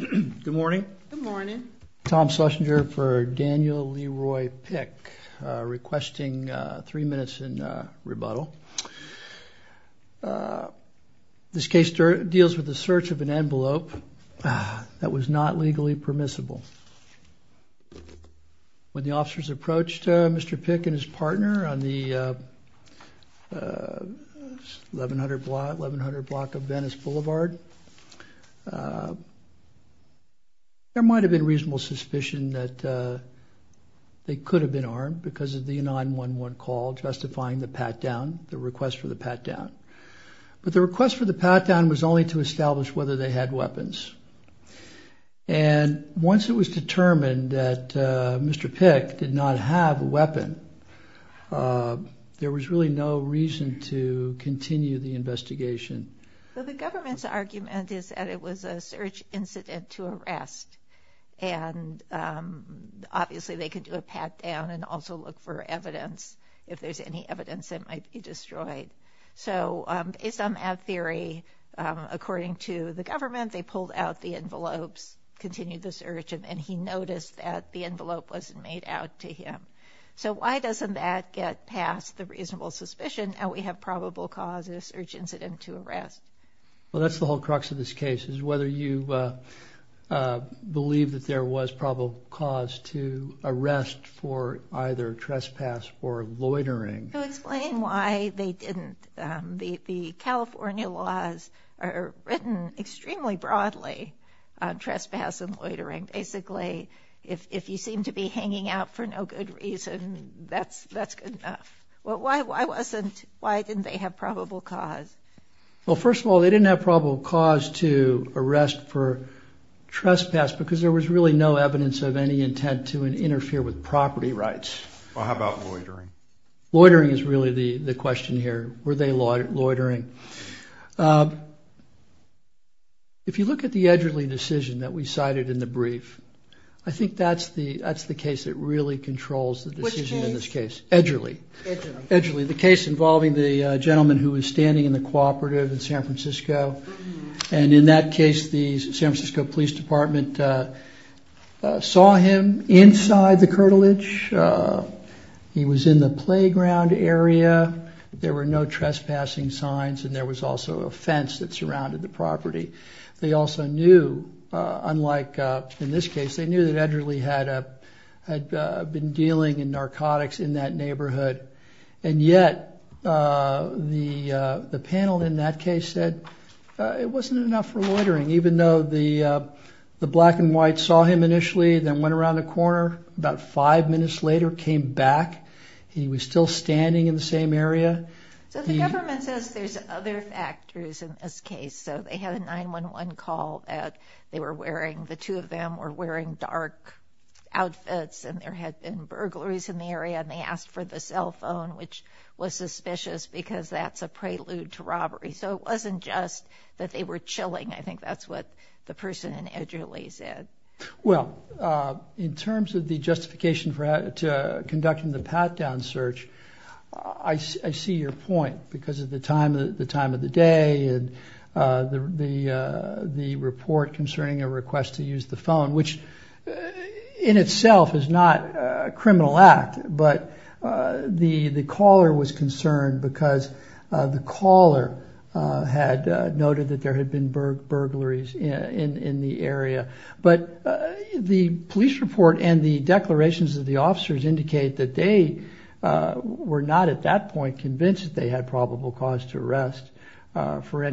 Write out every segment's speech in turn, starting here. Good morning. Good morning. Tom Schlesinger for Daniel Leroy Pick requesting three minutes in rebuttal. Uh, this case deals with the search of an envelope that was not legally permissible when the officers approached Mr Pick and his partner on the 1100 block of Venice Boulevard. Uh, there might have been reasonable suspicion that, uh, they could have been armed because of the 911 call justifying the pat down, the request for the pat down. But the request for the pat down was only to establish whether they had weapons. And once it was determined that Mr Pick did not have a weapon, uh, there was really no reason to continue the investigation. But the government's argument is that it was a search incident to arrest. And, um, obviously they could do a pat down and also look for evidence. If there's any evidence that might be destroyed. So based on that theory, according to the government, they pulled out the envelopes, continued the search, and he noticed that the envelope wasn't made out to him. So why doesn't that get past the reasonable suspicion that we have probable causes search incident to arrest? Well, that's the whole crux of this case is whether you, uh, believe that there was probable cause to arrest for either trespass or loitering. Explain why they didn't. The California laws are written extremely broadly on trespass and loitering. Basically, if you seem to be hanging out for no good reason, that's that's well, why wasn't? Why didn't they have probable cause? Well, first of all, they didn't have probable cause to arrest for trespass because there was really no evidence of any intent to interfere with property rights. How about loitering? Loitering is really the question here. Were they loitering? Um, if you look at the Edgerly decision that we cited in the brief, I think that's the that's the case that really controls the decision in this case. Edgerly. Edgerly, the case involving the gentleman who was standing in the cooperative in San Francisco. And in that case, the San Francisco Police Department, uh, saw him inside the curtilage. Uh, he was in the playground area. There were no trespassing signs, and there was also a fence that surrounded the property. They also knew, unlike in this case, they knew that dealing in narcotics in that neighborhood. And yet, uh, the panel in that case said it wasn't enough for loitering, even though the black and white saw him initially, then went around the corner about five minutes later, came back. He was still standing in the same area. So the government says there's other factors in this case. So they had a 911 call that they were burglaries in the area, and they asked for the cell phone, which was suspicious because that's a prelude to robbery. So it wasn't just that they were chilling. I think that's what the person in Edgerly said. Well, uh, in terms of the justification for conducting the pat down search, I see your point because of the time of the time of the day and the report concerning a request to use the phone, which in itself is not a criminal act. But, uh, the, the caller was concerned because, uh, the caller, uh, had, uh, noted that there had been burglaries in the area, but, uh, the police report and the declarations of the officers indicate that they, uh, were not at that point convinced that they had probable cause to arrest, uh, for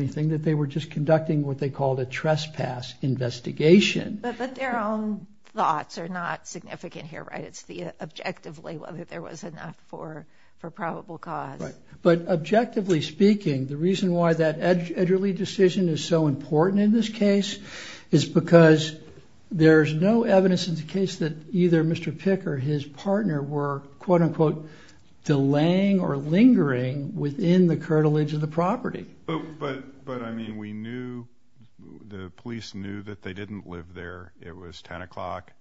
investigation. But their own thoughts are not significant here, right? It's the objectively whether there was enough for probable cause. But objectively speaking, the reason why that Edgerly decision is so important in this case is because there's no evidence in the case that either Mr Picker, his partner, were quote unquote delaying or lingering within the that they didn't live there. It was 10 o'clock,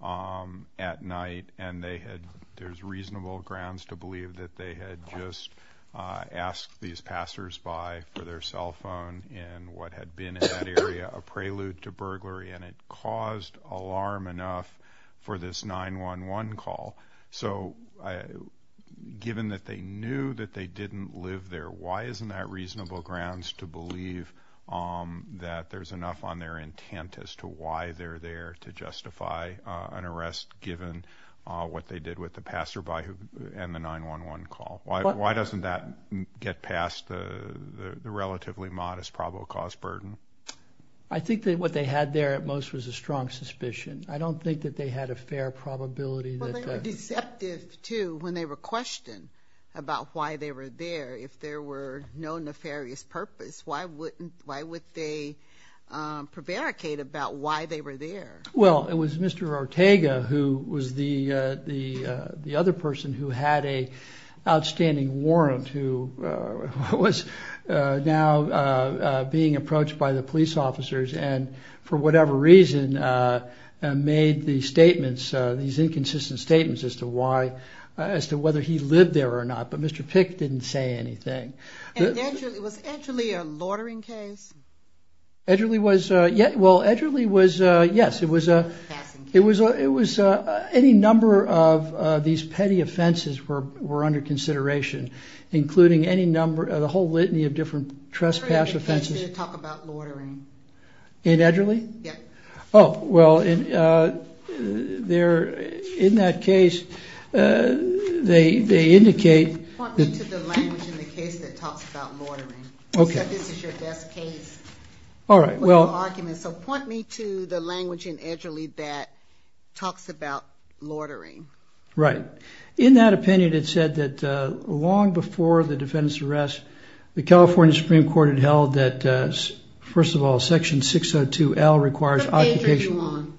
um, at night, and they had there's reasonable grounds to believe that they had just, uh, asked these passers by for their cell phone and what had been in that area, a prelude to burglary, and it caused alarm enough for this 911 call. So, uh, given that they knew that they didn't live there, why isn't that reasonable grounds to believe, um, that there's enough on their intent as to why they're there to justify an arrest given what they did with the passer by and the 911 call? Why doesn't that get past the relatively modest probable cause burden? I think that what they had there at most was a strong suspicion. I don't think that they had a fair probability. Well, they were deceptive, too, when they were questioned about why they were there. If there were no nefarious purpose, why wouldn't, why would they, um, prevaricate about why they were there? Well, it was Mr. Ortega who was the, uh, the, uh, the other person who had a outstanding warrant who, uh, was, uh, now, uh, uh, being approached by the police officers and for whatever reason, uh, made the statements, uh, these inconsistent statements as to why, uh, as to whether he lived there or not. But Mr. Pick didn't say anything. And Edgerly, was Edgerly a loitering case? Edgerly was, uh, yeah. Well, Edgerly was, uh, yes, it was, uh, it was, uh, it was, uh, any number of, uh, these petty offenses were, were under consideration, including any number of the whole litany of different trespass offenses. In Edgerly? Yeah. Oh, well, in, uh, there, in that case, uh, they, they indicate... Point me to the language in the case that talks about loitering. Except this is your best case. All right. Well... So point me to the language in Edgerly that talks about loitering. Right. In that opinion, it said that, uh, long before the defendant's arrest, the What page are you on?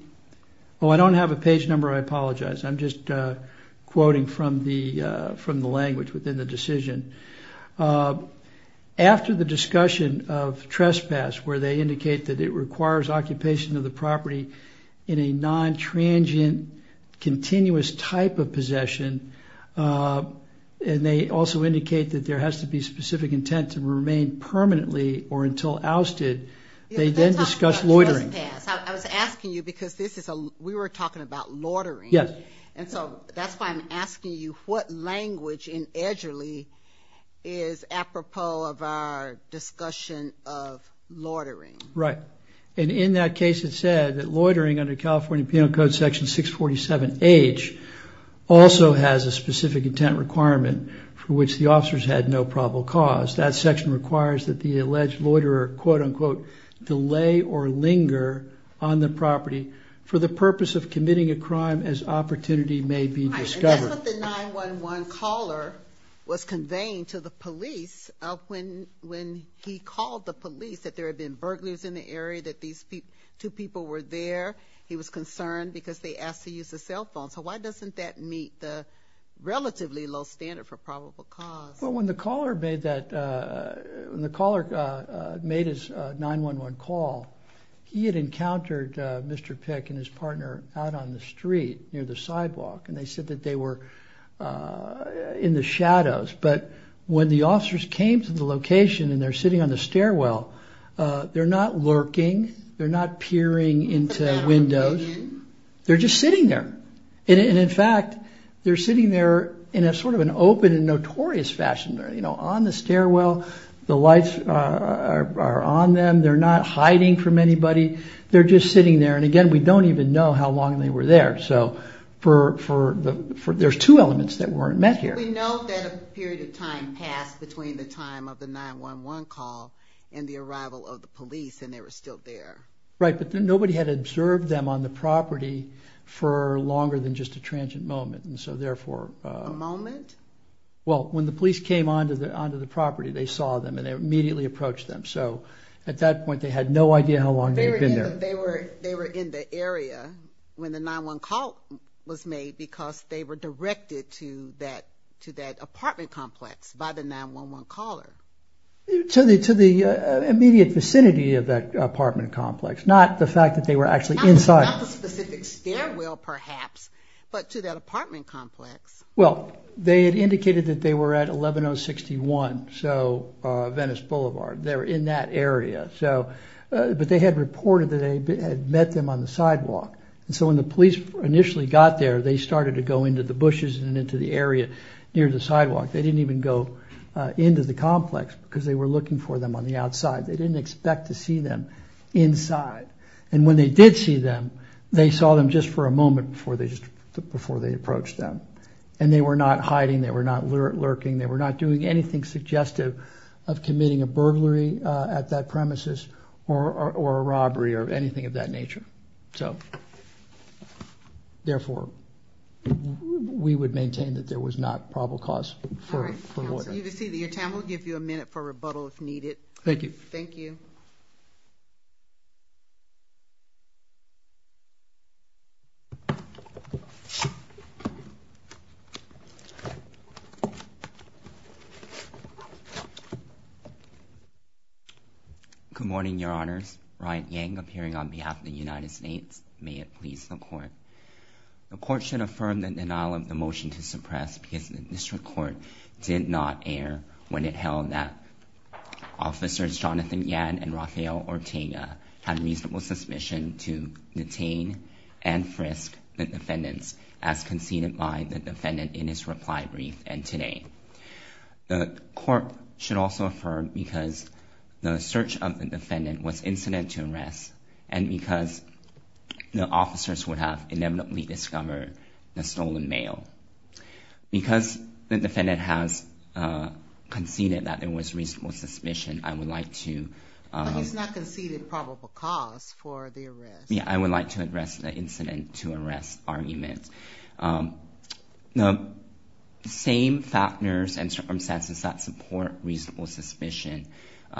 Oh, I don't have a page number. I apologize. I'm just, uh, quoting from the, uh, from the language within the decision. Uh, after the discussion of trespass, where they indicate that it requires occupation of the property in a non-transient, continuous type of possession, uh, and they also indicate that there has to be specific intent to remain permanently or until ousted. They then discuss loitering. I was asking you because this is a, we were talking about loitering. And so that's why I'm asking you what language in Edgerly is apropos of our discussion of loitering. Right. And in that case, it said that loitering under California Penal Code section 647H also has a specific intent requirement for which the officers had no probable cause. That section requires that the alleged loiter or quote unquote, delay or linger on the property for the purpose of committing a crime as opportunity may be discovered. That's what the 911 caller was conveying to the police of when, when he called the police that there had been burglars in the area that these two people were there, he was concerned because they asked to use the cell phone. So why doesn't that meet the relatively low standard for probable cause? Well, when the caller made that, when the caller made his 911 call, he had encountered Mr. Pick and his partner out on the street near the sidewalk. And they said that they were in the shadows. But when the officers came to the location and they're sitting on the stairwell, they're not lurking. They're not peering into windows. They're just sitting there. And in fact, they're sitting there in a sort of an open and you know, on the stairwell, the lights are on them. They're not hiding from anybody. They're just sitting there. And again, we don't even know how long they were there. So for, for the, for there's two elements that weren't met here. We know that a period of time passed between the time of the 911 call and the arrival of the police and they were still there. Right. But then nobody had observed them on the property for longer than just a transient moment. And so therefore, a moment. Well, when the police came onto the, onto the property, they saw them and they immediately approached them. So at that point, they had no idea how long they had been there. They were, they were in the area when the 911 call was made because they were directed to that, to that apartment complex by the 911 caller. To the, to the immediate vicinity of that apartment complex. Not the fact that they were actually inside. Not the specific stairwell perhaps, but to that apartment complex. Well, they had indicated that they were at 11061, so Venice Boulevard. They were in that area. So, but they had reported that they had met them on the sidewalk. And so when the police initially got there, they started to go into the bushes and into the area near the sidewalk. They didn't even go into the complex because they were looking for them on the outside. They didn't expect to see them inside. And when they did see them, they saw them just for a moment before they just, before they approached them. And they were not hiding. They were not lurking. They were not doing anything suggestive of committing a burglary at that premises or, or, or a robbery or anything of that nature. So, therefore we would maintain that there was not probable cause for, for murder. You can see that your time. We'll give you a minute for rebuttal if needed. Thank you. Thank you. Good morning, your honors. Ryan Yang appearing on behalf of the United States. May it please the court. The court should affirm the denial of the motion to suppress because the district court did not air when it held that officers, Jonathan Yan and Rafael Ortega had reasonable suspicion to detain and frisk the defendants as conceded by the defendant in his reply brief. And today the court should also affirm because the search of the defendant was incident to arrest and because the officers would have inevitably discovered the stolen mail because the defendant has conceded that there was reasonable suspicion. I would like to, I would like to address the incident to arrest arguments. The same factors and circumstances that support reasonable suspicion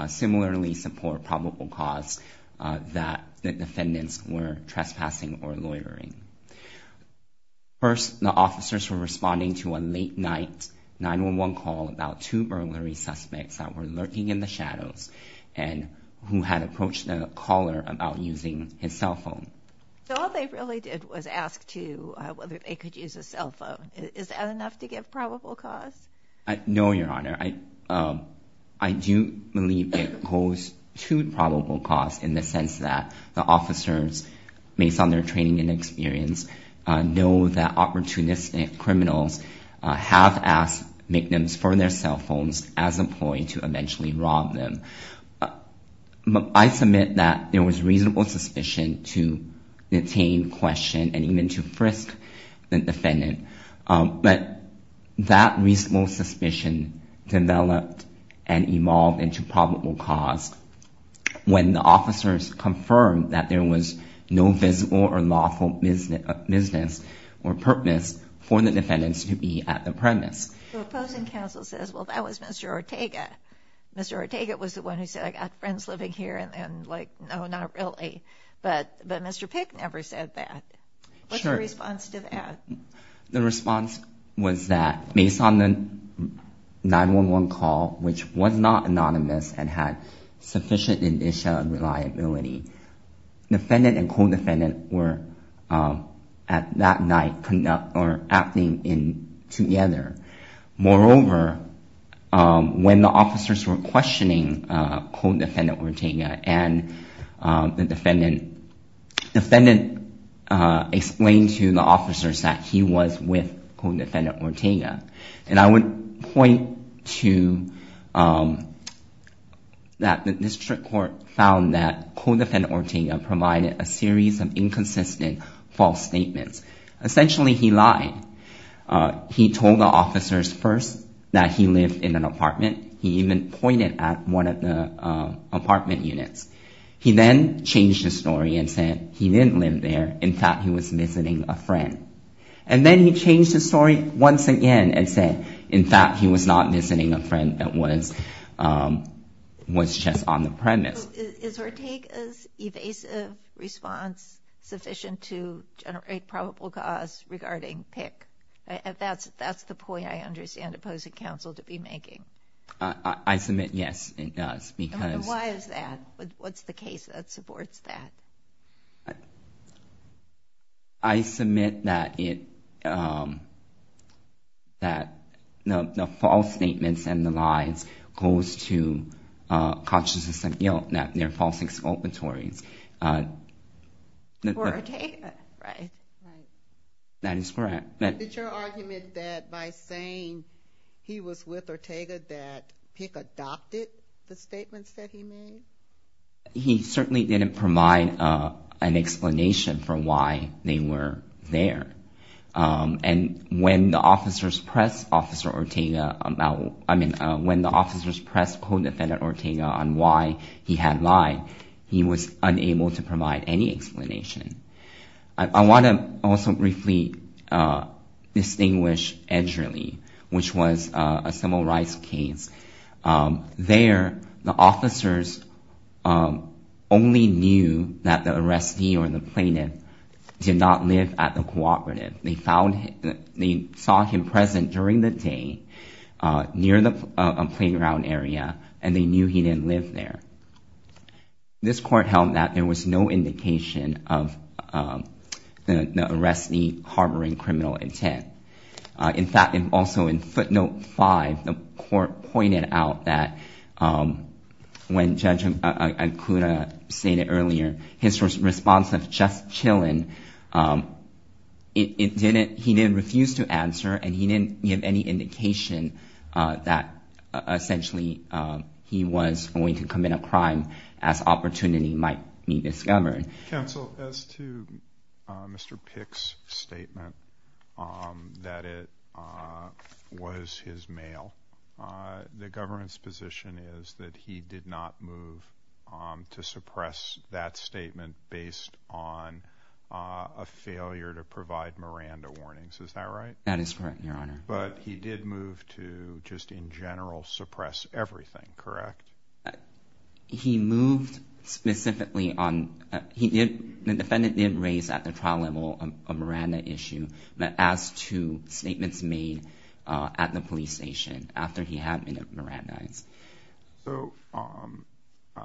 similarly support probable cause that the defendants were trespassing or loitering. First, the officers were responding to a late night 911 call about two burglary suspects that were lurking in the shadows and who had approached the caller about using his cell phone. So all they really did was ask to whether they could use a cell phone. Is that enough to get probable cause? I know your honor. I, um, I do believe it goes to probable cause in the sense that the officers based on their training and experience, uh, know that opportunistic criminals, uh, have asked victims for their cell phones as employee to eventually rob them. Uh, I submit that there was reasonable suspicion to detain question and even to frisk the defendant. Um, but that reasonable suspicion developed and evolved into probable cause when the officers confirmed that there was no visible or lawful business or purpose for the defendants to be at the premise. Ortega. Mr. Ortega was the one who said, I got friends living here and then like, no, not really. But, but Mr. Pick never said that. What's your response to that? The response was that based on the 911 call, which was not anonymous and had sufficient initial reliability, defendant and co-defendant were, um, at that night conduct or acting in together. Moreover, um, when the officers were questioning, uh, co-defendant Ortega and, um, the defendant, defendant, uh, explained to the officers that he was with co-defendant Ortega. And I would point to, um, that the district court found that co-defendant Ortega provided a series of inconsistent false statements. Essentially he lied. Uh, he told the officers first that he lived in an apartment. He even pointed at one of the, uh, apartment units. He then changed the story and said he didn't live there. In fact, he was visiting a friend. And then he changed the story once again and said, in fact, he was not visiting a friend that was, um, was just on the premise. Is Ortega's evasive response sufficient to generate probable cause regarding pick if that's, that's the point I understand opposing counsel to be making? Uh, I submit. Yes, it does. Because why is that? What's the case that supports that? I submit that it, um, that the false statements and the lies goes to, uh, consciousness and guilt, that they're false exculpatories. Uh, right. Right. That is correct. But your argument that by saying he was with Ortega, that pick adopted the statements that he made. He certainly didn't provide, uh, an explanation for why they were there. Um, and when the officers press officer Ortega about, I mean, uh, when the officers press co-defendant Ortega on why he had lied, he was unable to provide any explanation. I want to also briefly, uh, distinguish Edgerly, which was a civil rights case. Um, there the officers, um, only knew that the arrestee or the plaintiff did not live at the cooperative. They found, they saw him present during the day, uh, near the, uh, playground area, and they knew he didn't live there. This court held that there was no indication of, um, the arrestee harboring criminal intent. Uh, in fact, and also in footnote five, the court pointed out that, um, when judge Acuna stated earlier, his response of just chilling, um, it didn't, he didn't refuse to answer and he didn't give any indication, uh, that, uh, he was going to commit a crime as opportunity might be discovered. Counsel, as to, uh, Mr. Pick's statement, um, that it, uh, was his mail, uh, the government's position is that he did not move, um, to suppress that statement based on, uh, a failure to provide Miranda warnings. Is that right? That is correct, your honor. But he did move to just in general suppress everything, correct? He moved specifically on, uh, he did, the defendant did raise at the trial level, um, a Miranda issue, but as to statements made, uh, at the police station after he had been at Miranda's. So, um, uh,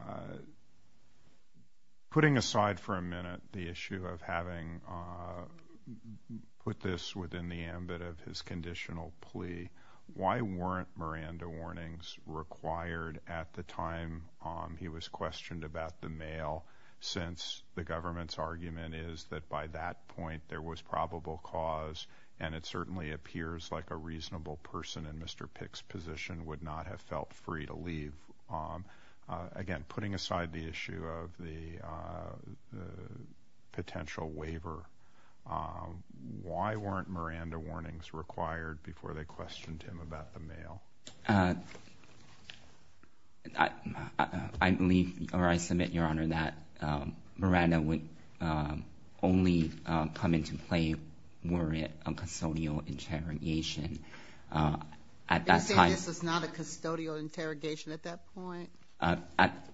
putting aside for a minute, the issue of having, uh, put this within the ambit of his conditional plea, why weren't Miranda warnings required at the time, um, he was questioned about the mail since the government's argument is that by that point there was probable cause and it certainly appears like a reasonable person in Mr. Pick's position would not have felt free to leave, um, uh, again, putting aside the issue of the, uh, the potential waiver. Um, why weren't Miranda warnings required before they questioned him about the mail? Uh, I, I believe, or I submit your honor that, um, Miranda would, um, only, um, come into play were it a custodial interrogation, uh, at that time. You're saying this is not a custodial interrogation at that point? Uh, at,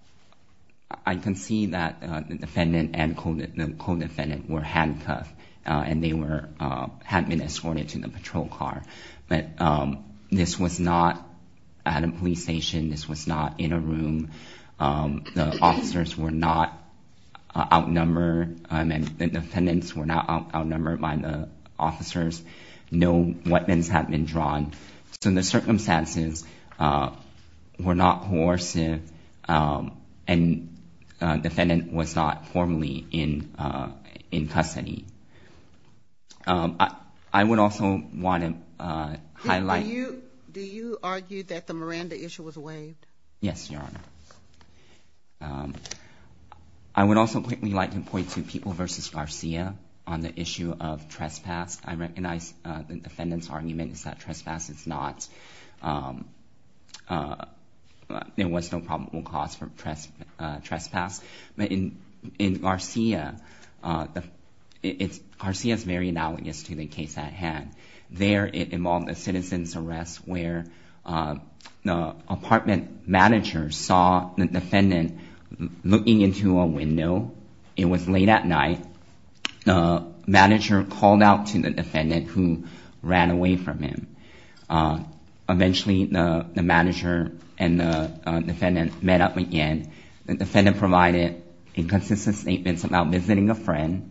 I can see that, uh, the defendant and the co-defendant were handcuffed, uh, and they were, uh, had been escorted to the patrol car, but, um, this was not at a police station. This was not in a room. Um, the officers were not outnumbered. Um, and the defendants were not outnumbered by the officers. No weapons had been drawn. So the circumstances, uh, were not coercive. Um, and, uh, defendant was not formally in, uh, in custody. Um, I, I would also want to, uh, highlight... Do you, do you argue that the Miranda issue was waived? Yes, your honor. Um, I would also quickly like to point to People v. Garcia on the issue of trespass. I recognize, uh, the defendant's argument is that trespass is not, um, uh, there was no probable cause for trespass, but in, in Garcia, uh, the, it's, Garcia's very analogous to the case at hand. There it involved a citizen's arrest where, uh, the apartment manager saw the defendant looking into a window. It was late at night. The manager called out to the defendant who ran away from him. Uh, eventually the, the manager and the, uh, defendant met up again. The defendant provided inconsistent statements about visiting a friend.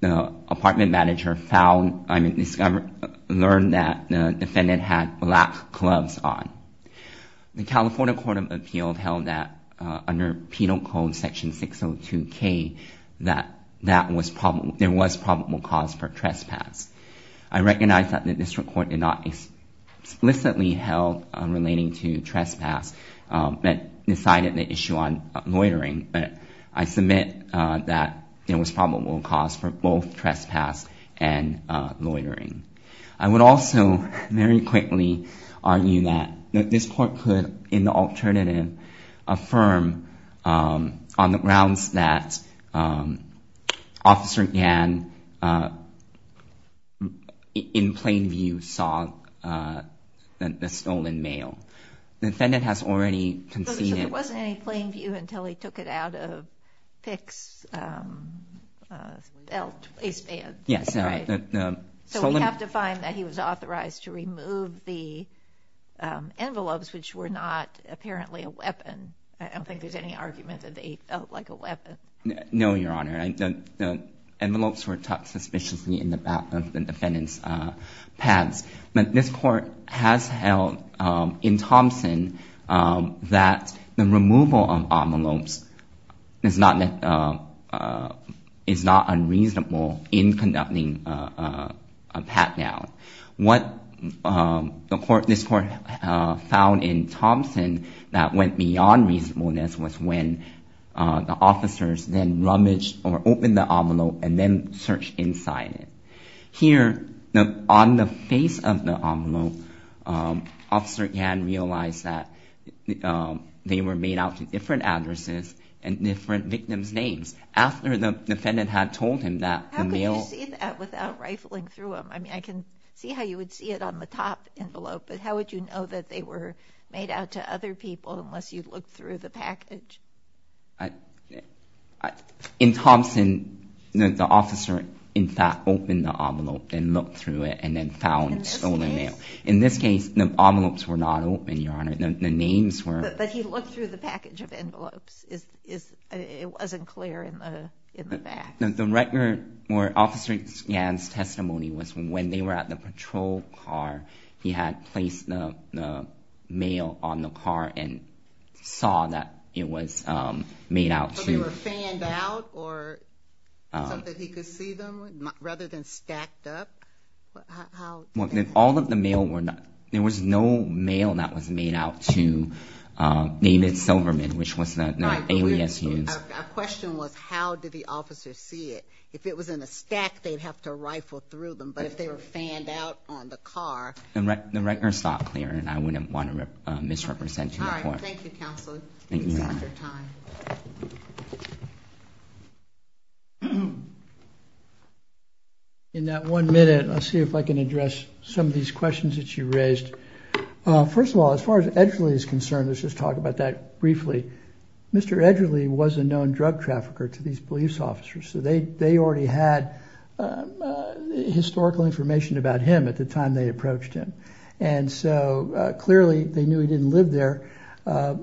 The apartment manager found, I mean, discovered, learned that the defendant had black gloves on. The California Court of Appeals held that, uh, under penal code section 602k, that, that was probable, there was probable cause for trespass. I recognize that the district court did not explicitly held on relating to trespass, um, but decided the issue on loitering, but I submit, uh, that there was probable cause for both trespass and, uh, loitering. I would also very quickly argue that this court could, in the alternative, affirm, um, on the grounds that, um, officer Gann, uh, in plain view saw, uh, the stolen mail. The defendant has already conceded. There wasn't any plain view until he took it out of Pick's, um, uh, belt, waistband. Yes. So we have to find that he was authorized to remove the, um, envelopes, which were not apparently a weapon. I don't think there's any argument that they felt like a weapon. No, Your Honor. I don't, the envelopes were tucked suspiciously in the back of the defendant's, uh, pads. But this court has held, um, in Thompson, um, that the removal of envelopes is not, uh, uh, is not unreasonable in conducting, uh, uh, a pat down. What, um, the court, this court, uh, found in Thompson that went beyond reasonableness was when, uh, the officers then rummaged or opened the envelope and then searched inside it. Here, on the face of the envelope, um, officer Gann realized that, um, they were made out to different addresses and different victims' names after the defendant had told him that the mail... How could you see that without rifling through them? I mean, I can see how you would see it on the top envelope, but how would you know that they were made out to other people unless you'd look through the package? In Thompson, the officer, in fact, opened the envelope and looked through it and then found stolen mail. In this case, the envelopes were not open, Your Honor. The names were... But he looked through the package of envelopes. Is, is, it wasn't clear in the, in the back. The record where officer Gann's testimony was from when they were at the patrol car, he had placed the, the mail on the car and saw that it was, um, made out to... So they were fanned out or something he could see them, rather than stacked up? How... Well, all of the mail were not, there was no mail that was made out to, um, David Silverman, which was the alias used. Our question was, how did the officer see it? If it was in a stack, they'd have to rifle through them. But if they were fanned out on the car... The record's not clear and I wouldn't want to misrepresent your point. Thank you, counsel. In that one minute, let's see if I can address some of these questions that you raised. Uh, first of all, as far as Edgerly is concerned, let's just talk about that drug trafficker to these police officers. So they, they already had, um, uh, historical information about him at the time they approached him. And so, uh, clearly they knew he didn't live there. Uh,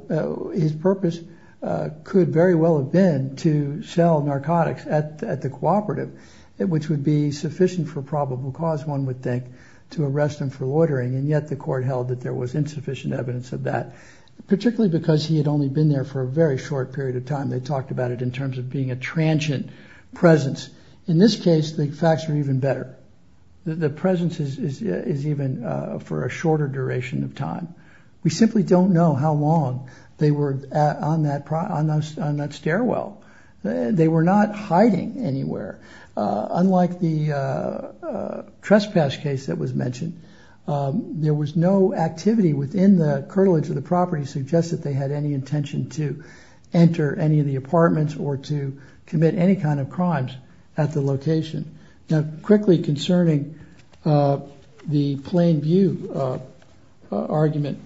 his purpose, uh, could very well have been to sell narcotics at the cooperative, which would be sufficient for probable cause, one would think, to arrest him for loitering. And yet the court held that there was insufficient evidence of that, particularly because he had only been there for a very short period of time. They talked about it in terms of being a transient presence. In this case, the facts are even better. The presence is, is, is even, uh, for a shorter duration of time. We simply don't know how long they were on that, on that stairwell. They were not hiding anywhere. Uh, unlike the, uh, uh, trespass case that was mentioned. Um, there was no activity within the curtilage of the property suggests that they had any intention to enter any of the apartments or to commit any kind of crimes at the location. Now, quickly concerning, uh, the plain view, uh, uh, argument.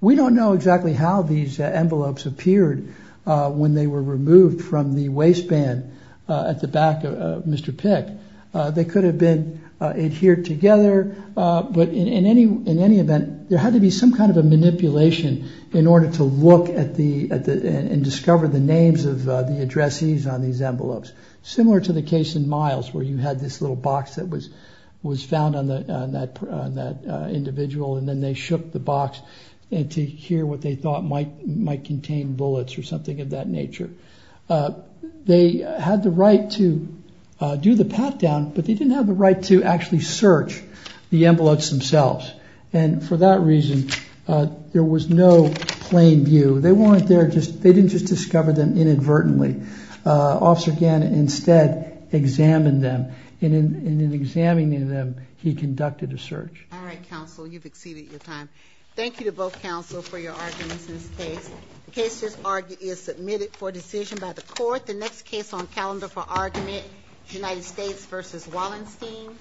We don't know exactly how these envelopes appeared, uh, when they were removed from the waistband, uh, at the back of Mr. Pick, uh, they could have been, uh, adhered together. Uh, but in any, in any event, there had to be some kind of a manipulation in order to look at the, at the, and discover the names of, uh, the addressees on these envelopes. Similar to the case in miles where you had this little box that was, was found on the, on that, on that, uh, individual. And then they shook the box and to hear what they thought might, might contain bullets or something of that nature. Uh, they had the right to, uh, do the pat down, but they didn't have the right to actually search the envelopes themselves. And for that reason, uh, there was no plain view. They weren't there. Just, they didn't just discover them inadvertently. Uh, officer Gannon instead examined them in, in, in examining them, he conducted a search. All right, counsel. You've exceeded your time. Thank you to both counsel for your arguments in this case. The case just argued is submitted for decision by the court. The next case on calendar for argument, United States versus Wallenstein.